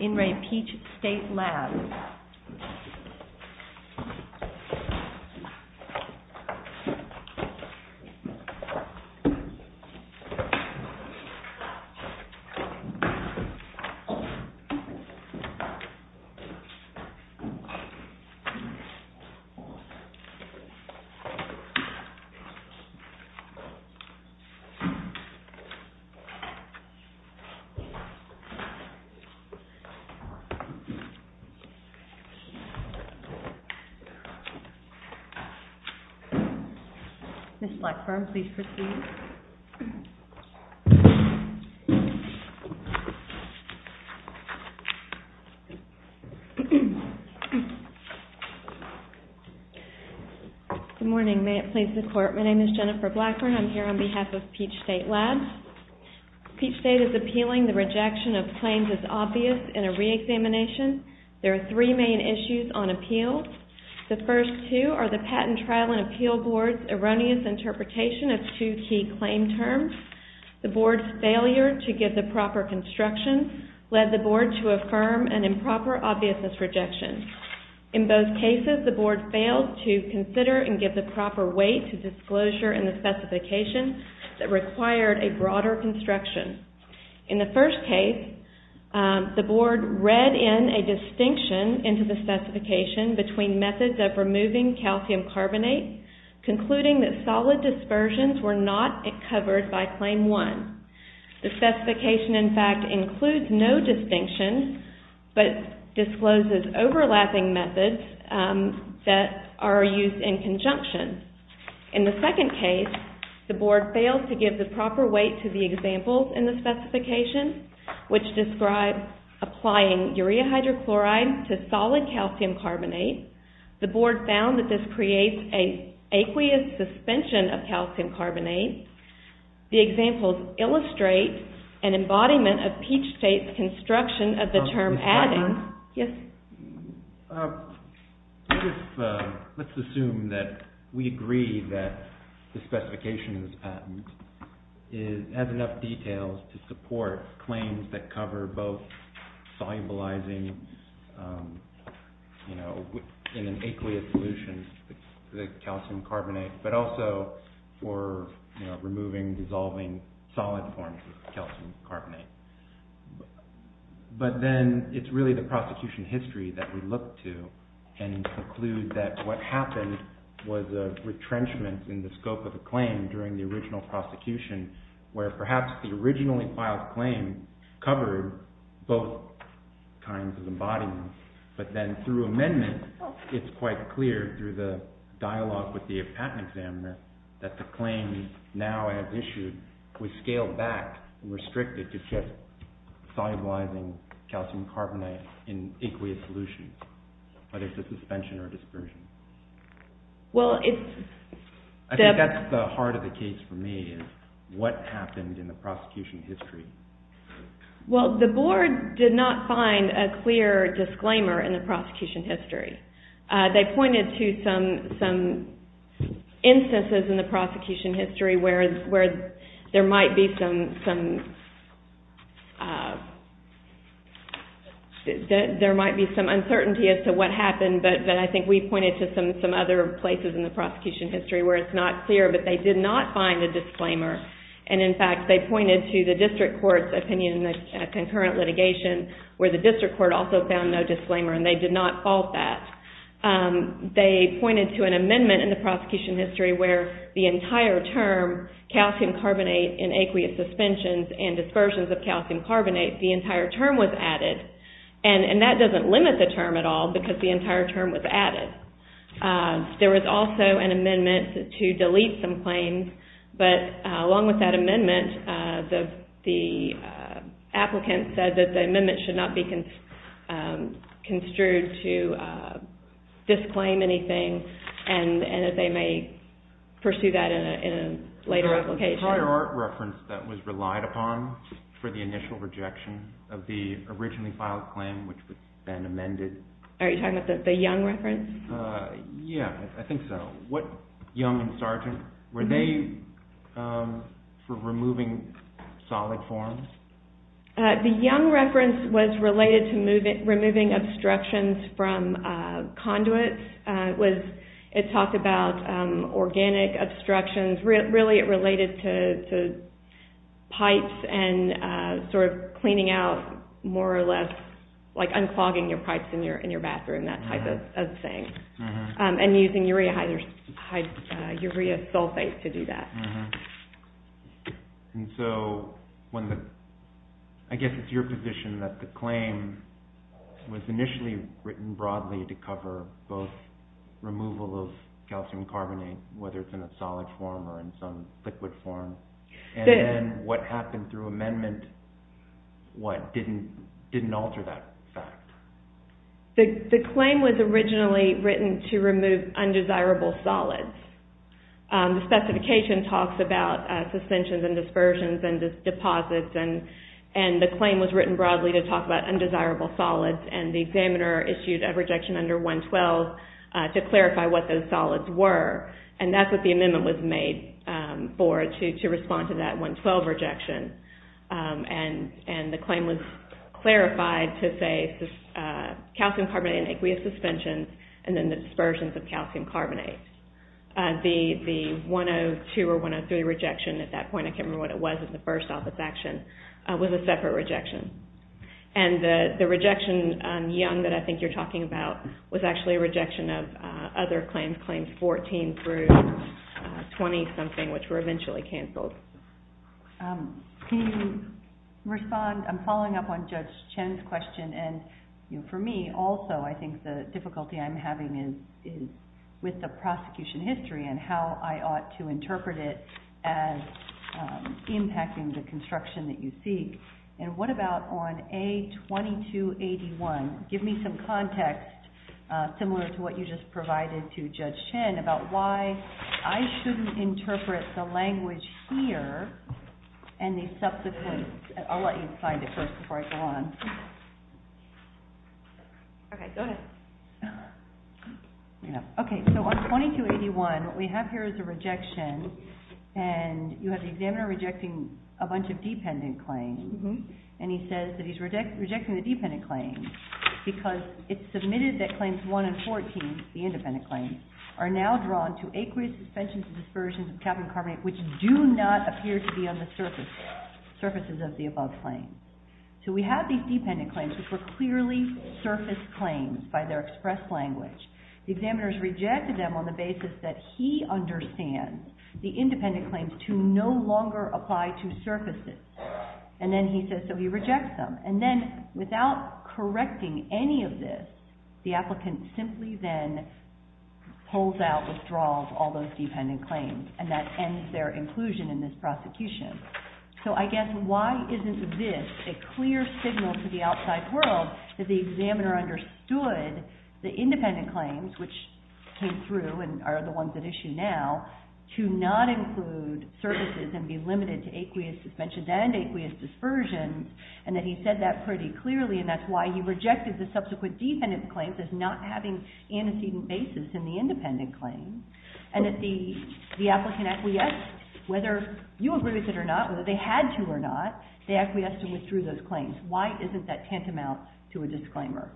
In Re Peach State Labs. Ms. Blackburn, please proceed. Good morning. May it please the Court, my name is Jennifer Blackburn. I'm here on behalf of Peach State Labs. Peach State is appealing the rejection of claims as obvious in a reexamination. There are three main issues on appeal. The first two are the Patent Trial and Appeal Board's erroneous interpretation of two key claim terms. The Board's failure to give the proper construction led the Board to affirm an improper obviousness rejection. In both cases, the Board failed to consider and give the proper weight to disclosure in the specification that required a broader construction. In the first case, the Board read in a distinction into the specification between methods of removing calcium carbonate, concluding that solid dispersions were not covered by Claim 1. The specification, in fact, includes no distinction, but discloses overlapping methods that are used in conjunction. In the second case, the Board failed to give the proper weight to the examples in the specification, which describe applying urea hydrochloride to solid calcium carbonate. The Board found that this creates an aqueous suspension of calcium carbonate. The examples illustrate an embodiment of Peach State's construction of the term adding. Let's assume that we agree that the specification of this patent has enough details to support claims that cover both solubilizing in an aqueous solution the calcium carbonate, but also for removing, dissolving solid forms of calcium carbonate. But then it's really the prosecution history that we look to and conclude that what happened was a retrenchment in the scope of the claim during the original prosecution, where perhaps the originally filed claim covered both kinds of embodiments. But then through amendment, it's quite clear through the dialogue with the patent examiner that the claim now as issued was scaled back and restricted to just solubilizing calcium carbonate in aqueous solutions, whether it's a suspension or dispersion. I think that's the heart of the case for me, is what happened in the prosecution history. Well, the Board did not find a clear disclaimer in the prosecution history. They pointed to some instances in the prosecution history where there might be some uncertainty as to what happened, but I think we pointed to some other places in the prosecution history where it's not clear, but they did not find a disclaimer. In fact, they pointed to the district court's opinion in the concurrent litigation where the district court also found no disclaimer, and they did not fault that. They pointed to an amendment in the prosecution history where the entire term, calcium carbonate in aqueous suspensions and dispersions of calcium carbonate, the entire term was added, and that doesn't limit the term at all because the entire term was added. There was also an amendment to delete some claims, but along with that amendment, the applicant said that the amendment should not be construed to disclaim anything, and that they may pursue that in a later application. There was a prior art reference that was relied upon for the initial rejection of the originally filed claim which had been amended. Are you talking about the Young reference? Yeah, I think so. What Young and Sargent, were they for removing solid forms? The Young reference was related to removing obstructions from conduits. It talked about organic obstructions. Really, it related to pipes and sort of cleaning out more or less like unclogging your pipes in your bathroom, that type of thing, and using urea sulfate to do that. I guess it's your position that the claim was initially written broadly to cover both removal of calcium carbonate, whether it's in a solid form or in some liquid form, and then what happened through amendment, what, didn't alter that fact? The claim was originally written to remove undesirable solids. The specification talks about suspensions and dispersions and deposits, and the claim was written broadly to talk about undesirable solids, and the examiner issued a rejection under 112 to clarify what those solids were, and that's what the amendment was made for, to respond to that 112 rejection, and the claim was clarified to say calcium carbonate and aqueous suspension, and then the dispersions of calcium carbonate. The 102 or 103 rejection at that point, I can't remember what it was in the first office action, was a separate rejection, and the rejection, Young, that I think you're talking about, was actually a rejection of other claims, claims 14 through 20-something, which were eventually canceled. I'm following up on Judge Chen's question, and for me also, I think the difficulty I'm having is with the prosecution history and how I ought to interpret it as impacting the construction that you seek, and what about on A2281, give me some context similar to what you just provided to Judge Chen about why I shouldn't interpret the language here and the subsequent, I'll let you find it first before I go on. Okay, so on 2281, what we have here is a rejection, and you have the examiner rejecting a bunch of dependent claims, and he says that he's rejecting the dependent claims because it's submitted that claims 1 and 14, the independent claims, are now drawn to aqueous suspensions and dispersions of calcium carbonate, which do not appear to be on the surfaces of the above claims. So we have these dependent claims, which were clearly surface claims by their express language. The examiners rejected them on the basis that he understands the independent claims to no longer apply to surfaces, and then he says, so he rejects them, and then without correcting any of this, the applicant simply then pulls out, withdraws all those dependent claims, and that ends their inclusion in this prosecution. So I guess why isn't this a clear signal to the outside world that the examiner understood the independent claims, which came through and are the ones at issue now, to not include surfaces and be limited to aqueous suspensions and aqueous dispersions, and that he said that pretty clearly, and that's why he rejected the subsequent dependent claims as not having antecedent basis in the independent claims, and that the applicant acquiesced, whether you agree with it or not, whether they had to or not, they acquiesced and withdrew those claims. Why isn't that tantamount to a disclaimer?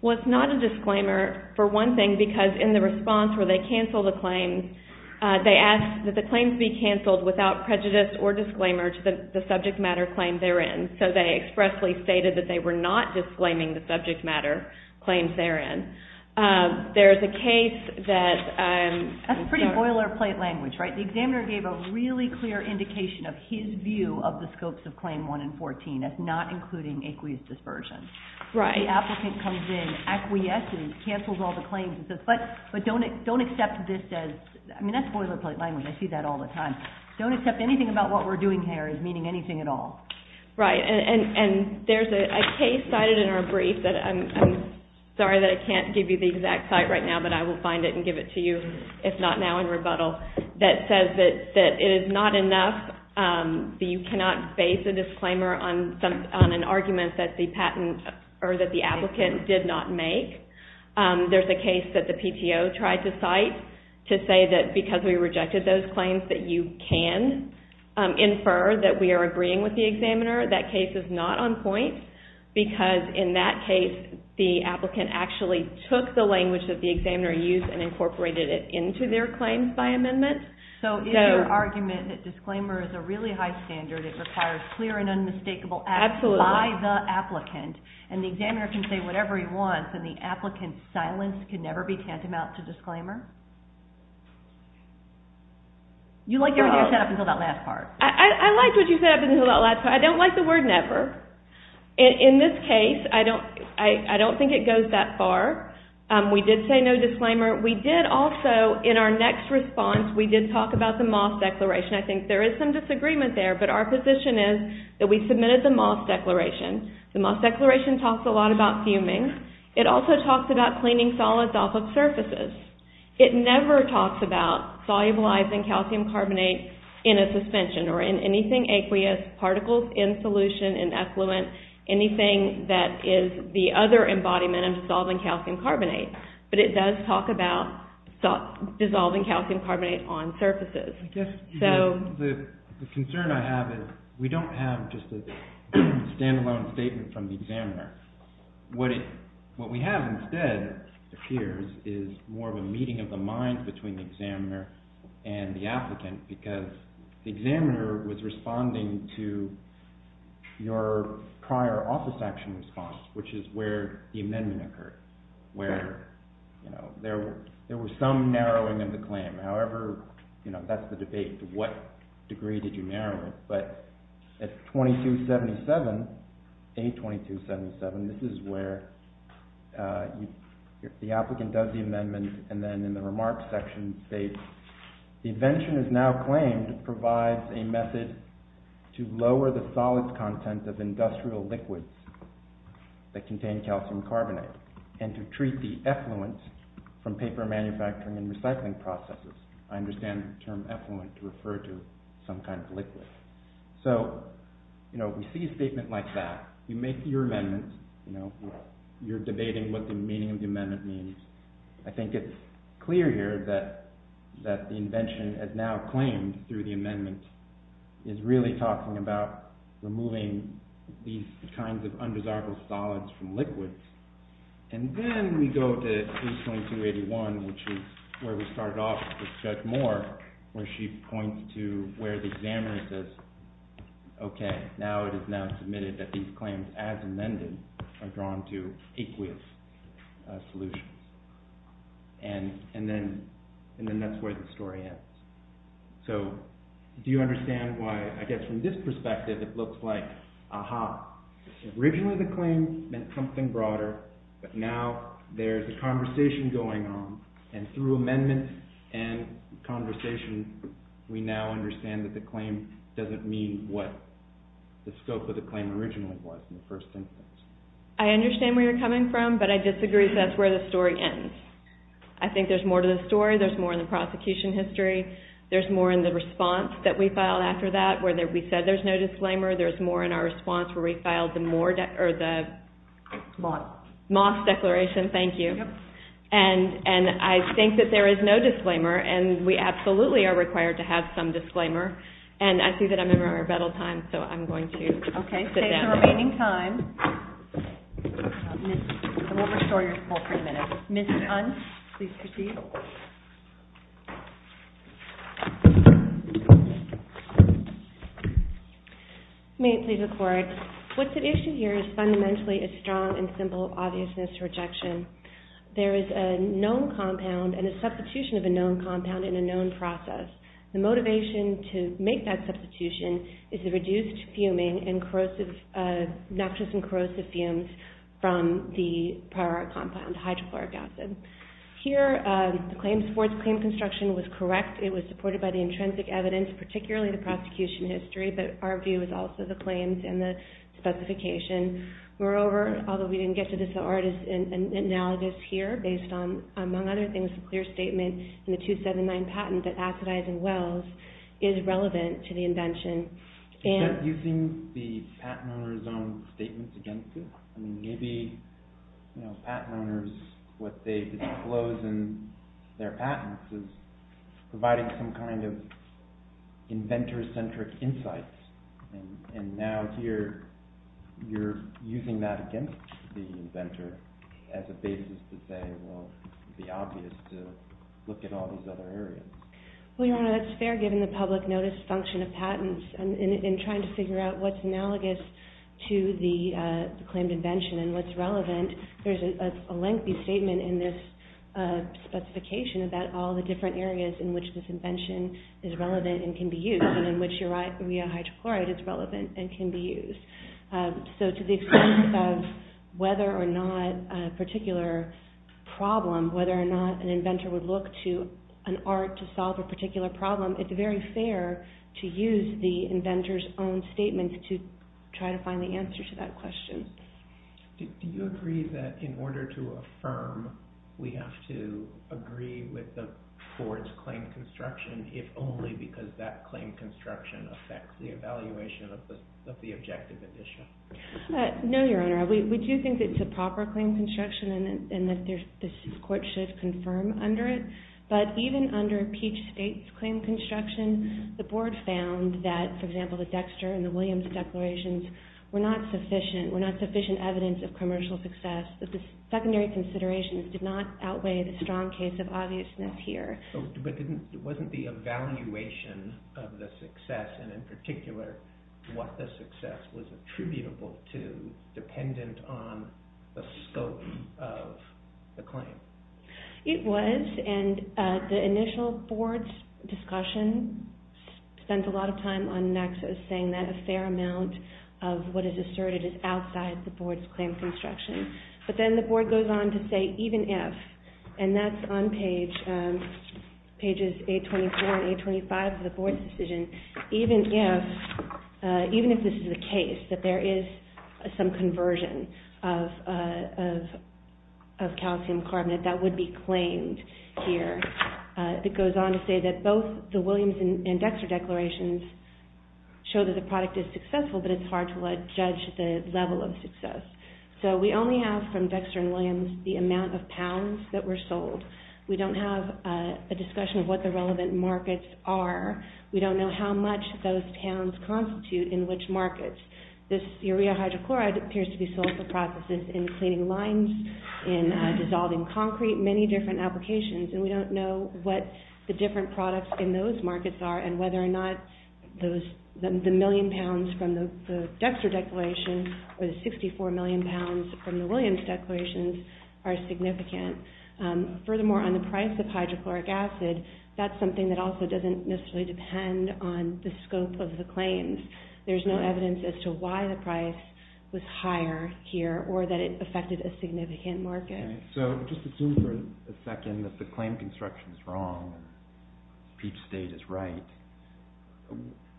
Well, it's not a disclaimer, for one thing, because in the response where they cancel the claims, they ask that the claims be canceled without prejudice or disclaimer to the subject matter claim they're in, so they expressly stated that they were not disclaiming the subject matter claims they're in. There's a case that... That's pretty boilerplate language, right? The examiner gave a really clear indication of his view of the scopes of Claim 1 and 14 as not including aqueous dispersions. The applicant comes in, acquiesces, cancels all the claims, but don't accept this as... I mean, that's boilerplate language. I see that all the time. Don't accept anything about what we're doing here as meaning anything at all. Right, and there's a case cited in our brief that... I'm sorry that I can't give you the exact site right now, but I will find it and give it to you, if not now in rebuttal, that says that it is not enough that you cannot base a disclaimer on an argument that the patent or that the applicant did not make. There's a case that the PTO tried to cite to say that because we rejected those claims that you can infer that we are agreeing with the examiner. That case is not on point because in that case, the applicant actually took the language that the examiner used and incorporated it into their claims by amendment. So if your argument that disclaimer is a really high standard, it requires clear and unmistakable action by the applicant, and the examiner can say whatever he wants, and the applicant's silence can never be tantamount to disclaimer? You liked what you said up until that last part. I liked what you said up until that last part. I don't like the word never. In this case, I don't think it goes that far. We did say no disclaimer. We did also, in our next response, we did talk about the Moss Declaration. I think there is some disagreement there, but our position is that we submitted the Moss Declaration. The Moss Declaration talks a lot about fuming. It also talks about cleaning solids off of surfaces. It never talks about solubilizing calcium carbonate in a suspension or in anything aqueous, particles in solution, in effluent, anything that is the other embodiment of dissolving calcium carbonate, but it does talk about dissolving calcium carbonate on surfaces. The concern I have is we don't have just a stand-alone statement from the examiner. What we have instead, it appears, is more of a meeting of the minds between the examiner and the applicant because the examiner was responding to your prior office action response, which is where the amendment occurred, where there was some narrowing of the claim. However, that's the debate. To what degree did you narrow it? But at 2277, A2277, this is where the applicant does the amendment, and then in the remarks section states, the invention is now claimed provides a method to lower the solids content of industrial liquids that contain calcium carbonate and to treat the effluent from paper manufacturing and recycling processes. I understand the term effluent to refer to some kind of liquid. So we see a statement like that. You make your amendment. You're debating what the meaning of the amendment means. I think it's clear here that the invention is now claimed through the amendment is really talking about removing these kinds of undesirable solids from liquids. And then we go to A2281, which is where we start off with Judge Moore, where she points to where the examiner says, okay, now it is now submitted that these claims as amended are drawn to aqueous solutions. And then that's where the story ends. So do you understand why, I guess from this perspective, it looks like, aha, originally the claim meant something broader, but now there's a conversation going on, and through amendments and conversation, we now understand that the claim doesn't mean what the scope of the claim originally was in the first instance. I understand where you're coming from, but I disagree because that's where the story ends. I think there's more to the story. There's more in the prosecution history. There's more in the response that we filed after that, where we said there's no disclaimer. There's more in our response where we filed the Moss Declaration. Thank you. And I think that there is no disclaimer, and we absolutely are required to have some disclaimer. And I see that I'm in my rebuttal time, so I'm going to sit down. Okay, save the remaining time. We'll restore your call for a minute. Ms. Hunt, please proceed. May it please the Court. What's at issue here is fundamentally a strong and simple obviousness rejection. There is a known compound and a substitution of a known compound in a known process. The motivation to make that substitution is the reduced fuming and corrosive, noxious and corrosive fumes from the prior compound, hydrochloric acid. Here, the claims, Ford's claim construction was correct. It was supported by the intrinsic evidence, particularly the prosecution history, but our view is also the claims and the specification. Moreover, although we didn't get to this artist's analogous here, based on, among other things, a clear statement in the 279 patent that acidizing wells is relevant to the invention. Is that using the patent owner's own statements against it? Maybe patent owners, what they've disclosed in their patents is providing some kind of inventor-centric insights, and now here you're using that against the inventor as a basis to say, well, it would be obvious to look at all these other areas. Well, Your Honor, that's fair given the public notice function of patents in trying to figure out what's analogous to the claimed invention and what's relevant. There's a lengthy statement in this specification about all the different areas in which this invention is relevant and can be used and in which urea hydrochloride is relevant and can be used. So to the extent of whether or not a particular problem, whether or not an inventor would look to an art to solve a particular problem, it's very fair to use the inventor's own statement to try to find the answer to that question. Do you agree that in order to affirm, we have to agree with the board's claim construction if only because that claim construction affects the evaluation of the objective edition? No, Your Honor. We do think it's a proper claim construction and that the court should confirm under it. But even under Peach State's claim construction, the board found that, for example, the Dexter and the Williams declarations were not sufficient evidence of commercial success. The secondary considerations did not outweigh the strong case of obviousness here. What the success was attributable to, dependent on the scope of the claim. It was, and the initial board's discussion spent a lot of time on Nexus saying that a fair amount of what is asserted is outside the board's claim construction. But then the board goes on to say, even if, and that's on pages 824 and 825 of the board's decision, even if this is the case, that there is some conversion of calcium carbonate that would be claimed here, it goes on to say that both the Williams and Dexter declarations show that the product is successful, but it's hard to judge the level of success. So we only have from Dexter and Williams the amount of pounds that were sold. We don't have a discussion of what the relevant markets are. We don't know how much those towns constitute in which markets. This urea hydrochloride appears to be sold for processes in cleaning lines, in dissolving concrete, many different applications, and we don't know what the different products in those markets are and whether or not the million pounds from the Dexter declaration or the 64 million pounds from the Williams declarations are significant. Furthermore, on the price of hydrochloric acid, that's something that also doesn't necessarily depend on the scope of the claims. There's no evidence as to why the price was higher here or that it affected a significant market. So just assume for a second that the claim construction is wrong and Peep's state is right.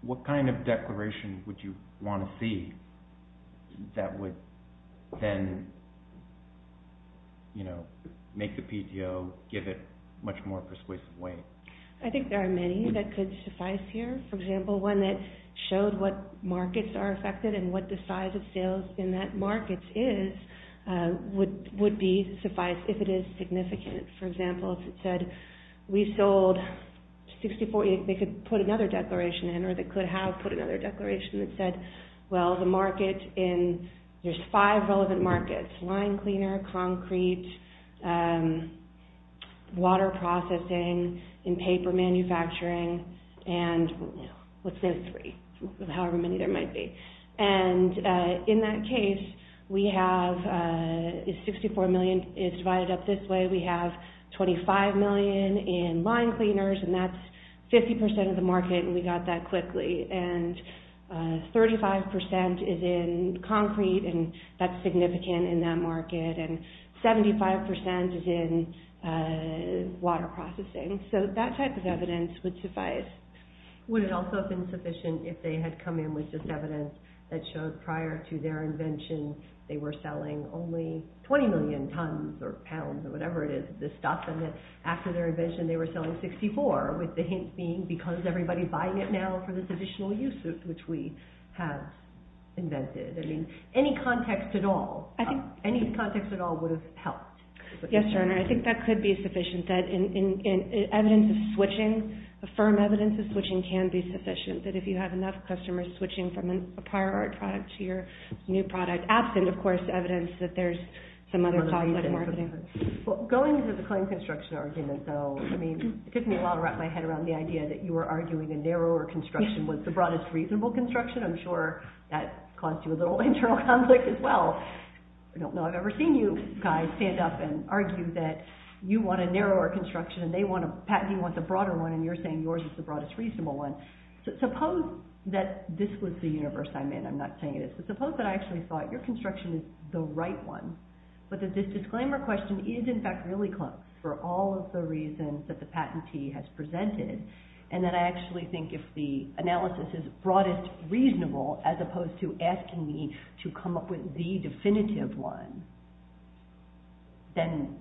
What kind of declaration would you want to see that would then make the PTO give it much more persuasive weight? I think there are many that could suffice here. For example, one that showed what markets are affected and what the size of sales in that market is would suffice if it is significant. For example, if it said, we sold 64 million pounds, they could put another declaration in or they could have put another declaration that said, well, there's five relevant markets, line cleaner, concrete, water processing, in paper manufacturing, and let's say three, however many there might be. In that case, 64 million is divided up this way. We have 25 million in line cleaners, and that's 50% of the market, and we got that quickly. And 35% is in concrete, and that's significant in that market. And 75% is in water processing. So that type of evidence would suffice. Would it also have been sufficient if they had come in with this evidence that showed prior to their invention they were selling only 20 million tons or pounds or whatever it is of this stuff, and then after their invention they were selling 64, with the hint being because everybody's buying it now for this additional use which we have invented. I mean, any context at all would have helped. Yes, Your Honor, I think that could be sufficient. Evidence of switching, the firm evidence of switching can be sufficient, that if you have enough customers switching from a prior art product to your new product, absent, of course, evidence that there's some other conflict in marketing. Well, going into the claim construction argument, though, I mean, it took me a while to wrap my head around the idea that you were arguing a narrower construction was the broadest reasonable construction. I'm sure that caused you a little internal conflict as well. I don't know I've ever seen you guys stand up and argue that you want a narrower construction and they want a patent, you want the broader one, and you're saying yours is the broadest reasonable one. Suppose that this was the universe I'm in, I'm not saying it is, but suppose that I actually thought your construction is the right one, but that this disclaimer question is, in fact, really close for all of the reasons that the patentee has presented, and that I actually think if the analysis is broadest reasonable as opposed to asking me to come up with the definitive one, then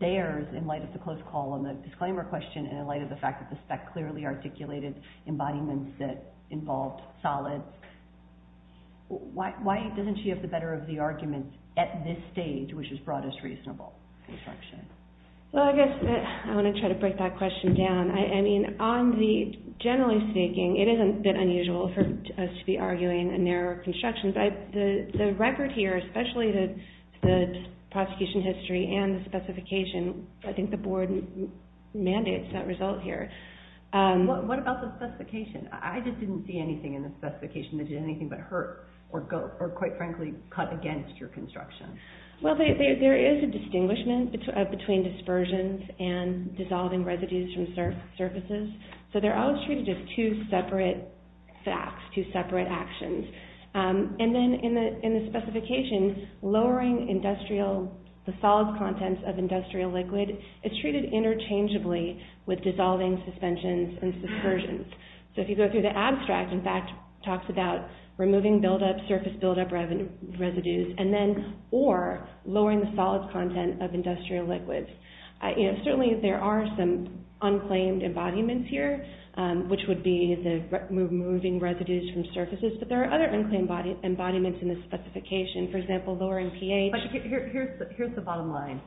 theirs, in light of the close call on the disclaimer question and in light of the fact that the spec clearly articulated embodiments that involved solids, why doesn't she have the better of the arguments at this stage, which is broadest reasonable construction? Well, I guess I want to try to break that question down. I mean, generally speaking, it is a bit unusual for us to be arguing a narrower construction. The record here, especially the prosecution history and the specification, I think the board mandates that result here. What about the specification? I just didn't see anything in the specification that did anything but hurt or, quite frankly, cut against your construction. Well, there is a distinguishment between dispersions and dissolving residues from surfaces. So they're always treated as two separate facts, two separate actions. And then in the specification, lowering the solids contents of industrial liquid is treated interchangeably with dissolving suspensions and dispersions. So if you go through the abstract, in fact, it talks about removing surface buildup residues or lowering the solids content of industrial liquids. Certainly there are some unclaimed embodiments here, which would be the removing residues from surfaces, but there are other unclaimed embodiments in the specification. For example, lowering pH. But here's the bottom line.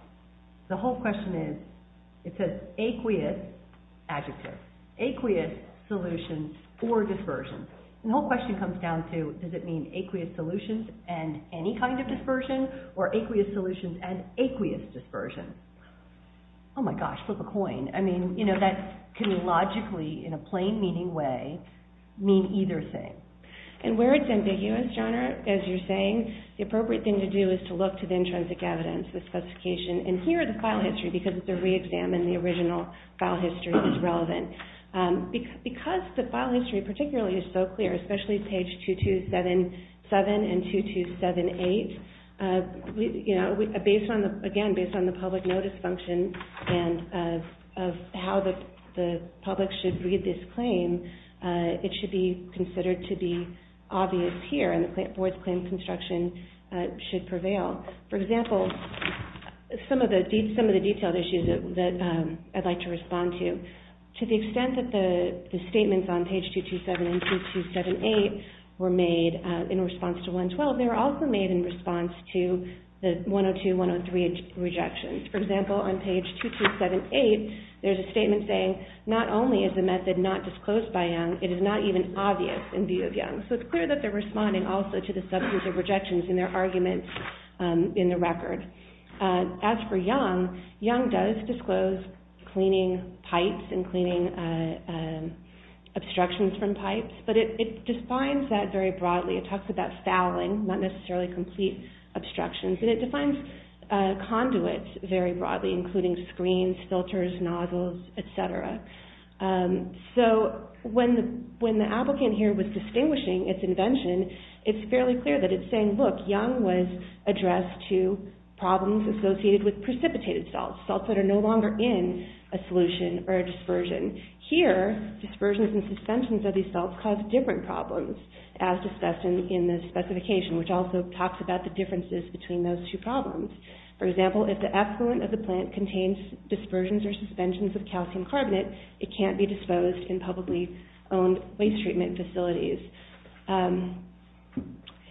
The whole question is, it's an aqueous adjective, aqueous solution for dispersion. The whole question comes down to, does it mean aqueous solutions and any kind of dispersion or aqueous solutions and aqueous dispersion? Oh my gosh, flip a coin. I mean, you know, that can logically, in a plain meaning way, mean either thing. And where it's ambiguous, Johnna, as you're saying, the appropriate thing to do is to look to the intrinsic evidence, the specification. And here, the file history, because it's a re-examine, the original file history is relevant. Because the file history particularly is so clear, especially page 2277 and 2278, you know, again, based on the public notice function and of how the public should read this claim, it should be considered to be obvious here and the board's claim construction should prevail. For example, some of the detailed issues that I'd like to respond to. To the extent that the statements on page 227 and 2278 were made in response to 112, they were also made in response to the 102, 103 rejections. For example, on page 2278, there's a statement saying, not only is the method not disclosed by Young, it is not even obvious in view of Young. So it's clear that they're responding also to the substantive rejections in their arguments in the record. As for Young, Young does disclose cleaning pipes and cleaning obstructions from pipes, but it defines that very broadly. It talks about fouling, not necessarily complete obstructions, and it defines conduits very broadly, including screens, filters, nozzles, etc. So when the applicant here was distinguishing its invention, it's fairly clear that it's saying, look, Young was addressed to problems associated with precipitated salts, salts that are no longer in a solution or a dispersion. Here, dispersions and suspensions of these salts cause different problems, as discussed in the specification, which also talks about the differences between those two problems. For example, if the effluent of the plant contains dispersions or suspensions of calcium carbonate, it can't be disposed in publicly owned waste treatment facilities.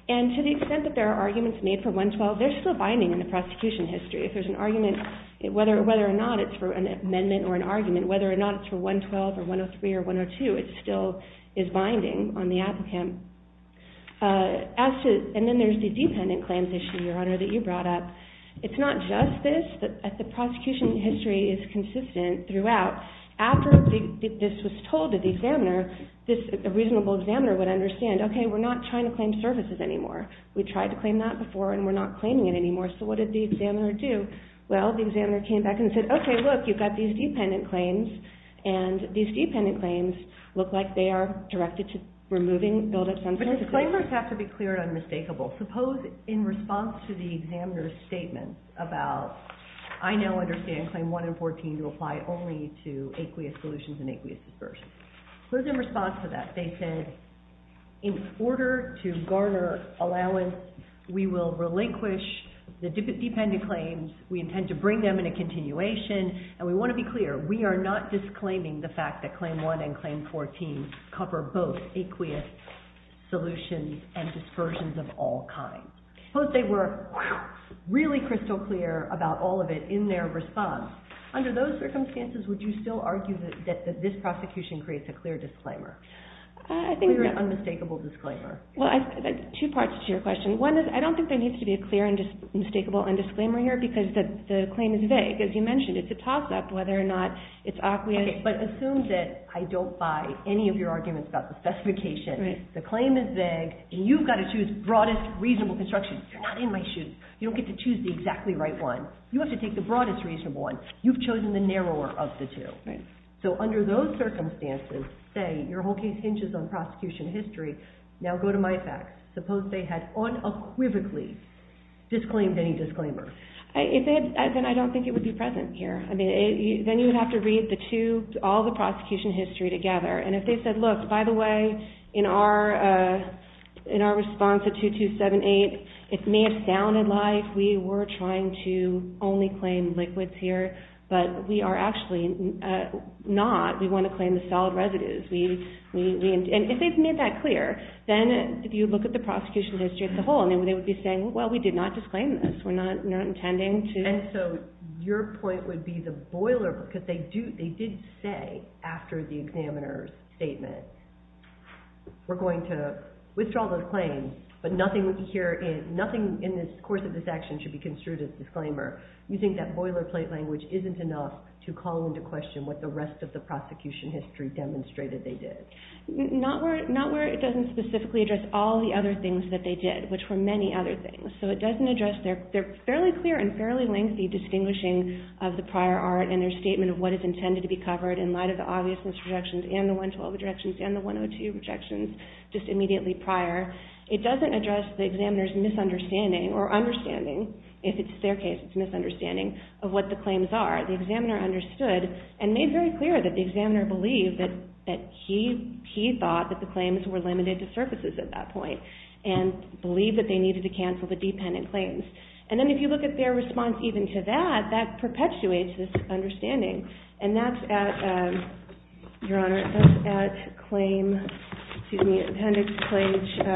And to the extent that there are arguments made for 112, they're still binding in the prosecution history. If there's an argument, whether or not it's for an amendment or an argument, whether or not it's for 112 or 103 or 102, it still is binding on the applicant. And then there's the dependent claims issue, Your Honor, that you brought up. It's not just this, that the prosecution history is consistent throughout. After this was told to the examiner, a reasonable examiner would understand, okay, we're not trying to claim services anymore. We tried to claim that before, and we're not claiming it anymore, so what did the examiner do? Well, the examiner came back and said, okay, look, you've got these dependent claims, and these dependent claims look like they are directed to removing buildup sensors. But the claimers have to be clear and unmistakable. Suppose in response to the examiner's statement about, I now understand Claim 1 and 14 to apply only to aqueous solutions and aqueous dispersions. Suppose in response to that they said, in order to garner allowance, we will relinquish the dependent claims, we intend to bring them in a continuation, and we want to be clear, we are not disclaiming the fact that Claim 1 and Claim 14 cover both aqueous solutions and dispersions of all kinds. Suppose they were really crystal clear about all of it in their response. Under those circumstances, would you still argue that this prosecution creates a clear disclaimer? A clear, unmistakable disclaimer. Well, two parts to your question. One is, I don't think there needs to be a clear, unmistakable, undisclaimer here, because the claim is vague, as you mentioned. It's a toss-up whether or not it's aqueous. Okay, but assume that I don't buy any of your arguments about the specification. The claim is vague, and you've got to choose the broadest, reasonable construction. You're not in my shoes. You don't get to choose the exactly right one. You have to take the broadest, reasonable one. You've chosen the narrower of the two. So under those circumstances, say your whole case hinges on prosecution history, now go to MIFAC. Suppose they had unequivocally disclaimed any disclaimer. Then I don't think it would be present here. Then you would have to read all the prosecution history together, and if they said, look, by the way, in our response to 2278, it may have sounded like we were trying to only claim liquids here, but we are actually not. We want to claim the solid residues. And if they've made that clear, then if you look at the prosecution history as a whole, they would be saying, well, we did not disclaim this. We're not intending to. And so your point would be the boilerplate, because they did say after the examiner's statement, we're going to withdraw the claim, but nothing in the course of this action should be construed as disclaimer. You think that boilerplate language isn't enough to call into question what the rest of the prosecution history demonstrated they did. Not where it doesn't specifically address all the other things that they did, which were many other things. So it doesn't address their fairly clear and fairly lengthy distinguishing of the prior art and their statement of what is intended to be covered in light of the obviousness rejections and the 112 rejections and the 102 rejections just immediately prior. It doesn't address the examiner's misunderstanding or understanding, if it's their case it's misunderstanding, of what the claims are. The examiner understood and made very clear that the examiner believed that he thought that the claims were limited to surfaces at that point and believed that they needed to cancel the dependent claims. And then if you look at their response even to that, that perpetuates this understanding. And that's at claim appendix page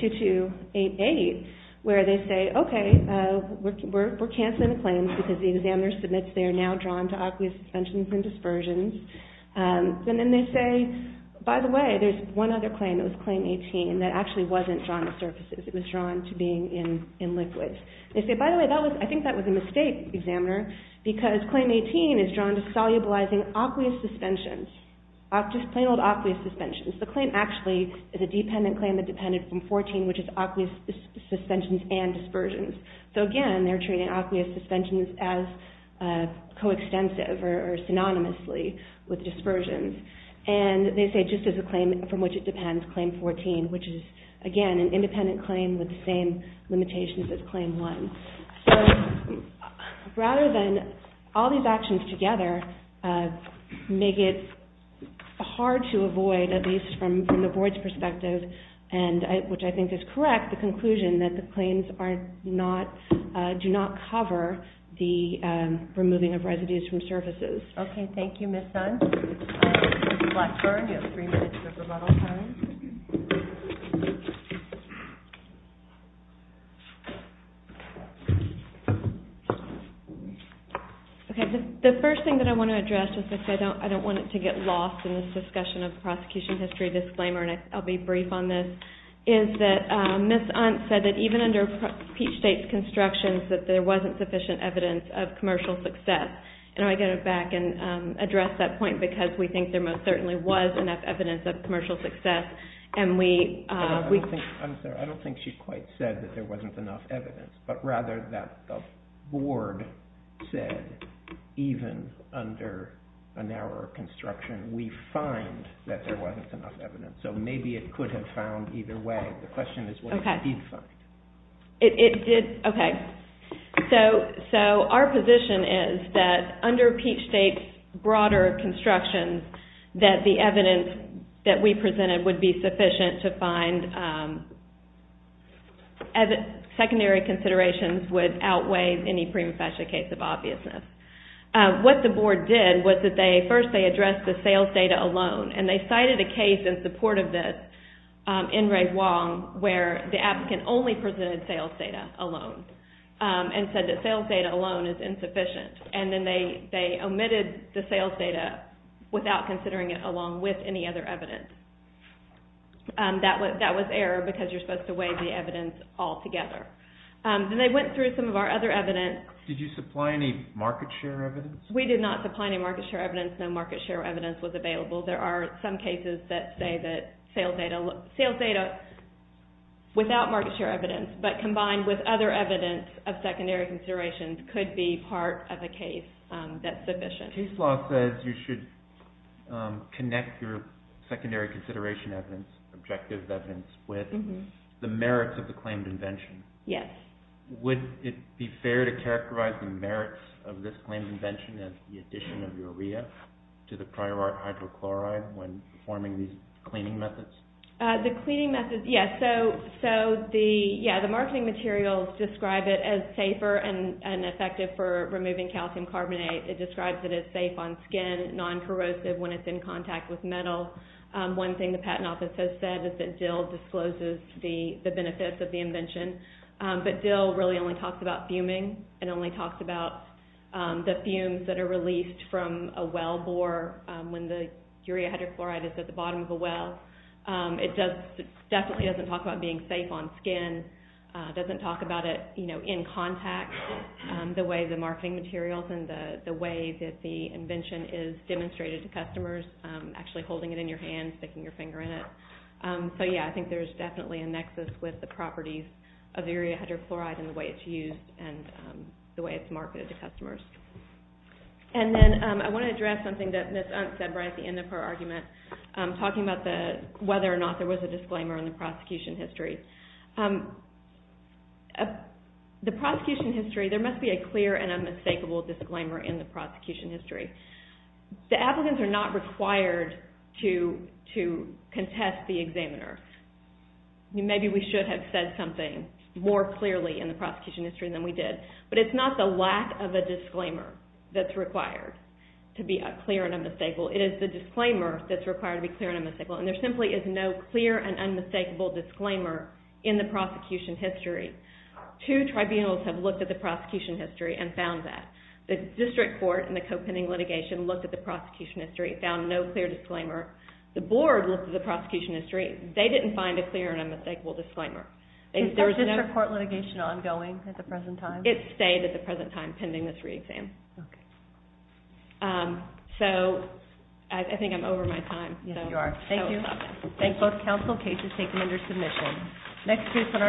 2288, where they say, okay, we're canceling the claims because the examiner submits they are now drawn to obvious suspensions and dispersions. And then they say, by the way, there's one other claim, it was claim 18, that actually wasn't drawn to surfaces, it was drawn to being in liquids. They say, by the way, I think that was a mistake, examiner, because claim 18 is drawn to solubilizing obvious suspensions, plain old obvious suspensions. The claim actually is a dependent claim that depended from 14, which is obvious suspensions and dispersions. So again, they're treating obvious suspensions as coextensive or synonymously with dispersions. And they say just as a claim from which it depends, claim 14, which is, again, an independent claim with the same limitations as claim 1. So rather than all these actions together make it hard to avoid, at least from the board's perspective, which I think is correct, the conclusion that the claims do not cover the removing of residues from surfaces. Okay, thank you, Ms. Hunt. Ms. Blackburn, you have three minutes of rebuttal time. The first thing that I want to address, just because I don't want it to get lost in this discussion of prosecution history disclaimer, and I'll be brief on this, is that Ms. Hunt said that even under Peachtate's constructions that there wasn't sufficient evidence of commercial success. And I want to go back and address that point, because we think there most certainly was enough evidence of commercial success. I'm sorry, I don't think she quite said that there wasn't enough evidence, but rather that the board said even under a narrower construction, we find that there wasn't enough evidence. So maybe it could have found either way. The question is what it did find. It did, okay. So our position is that under Peachtate's broader construction, that the evidence that we presented would be sufficient to find secondary considerations would outweigh any prima facie case of obviousness. What the board did was that first they addressed the sales data alone, and they cited a case in support of this, in Ray Wong where the applicant only presented sales data alone and said that sales data alone is insufficient. And then they omitted the sales data without considering it along with any other evidence. That was error because you're supposed to weigh the evidence all together. Then they went through some of our other evidence. Did you supply any market share evidence? We did not supply any market share evidence. No market share evidence was available. There are some cases that say that sales data without market share evidence but combined with other evidence of secondary considerations could be part of a case that's sufficient. Case law says you should connect your secondary consideration evidence, objective evidence, with the merits of the claimed invention. Yes. Would it be fair to characterize the merits of this claimed invention as the addition of urea to the pyrite hydrochloride when forming these cleaning methods? The cleaning methods, yes. So the marketing materials describe it as safer and effective for removing calcium carbonate. It describes it as safe on skin, non-corrosive when it's in contact with metal. One thing the patent office has said is that DIL discloses the benefits of the invention. But DIL really only talks about fuming. It only talks about the fumes that are released from a well bore when the urea hydrochloride is at the bottom of a well. It definitely doesn't talk about being safe on skin. It doesn't talk about it in contact, the way the marketing materials and the way that the invention is demonstrated to customers, actually holding it in your hand, sticking your finger in it. So, yeah, I think there's definitely a nexus with the properties of urea hydrochloride and the way it's used and the way it's marketed to customers. And then I want to address something that Ms. Hunt said right at the end of her argument, talking about whether or not there was a disclaimer in the prosecution history. The prosecution history, there must be a clear and unmistakable disclaimer in the prosecution history. The applicants are not required to contest the examiner. Maybe we should have said something more clearly in the prosecution history than we did. But it's not the lack of a disclaimer that's required to be clear and unmistakable. It is the disclaimer that's required to be clear and unmistakable. And there simply is no clear and unmistakable disclaimer in the prosecution history. Two tribunals have looked at the prosecution history and found that. The district court in the copenning litigation looked at the prosecution history and found no clear disclaimer. The board looked at the prosecution history. They didn't find a clear and unmistakable disclaimer. Is that district court litigation ongoing at the present time? It's stayed at the present time, pending this re-exam. Okay. So, I think I'm over my time. Yes, you are. Thank you. Both counsel cases taken under submission.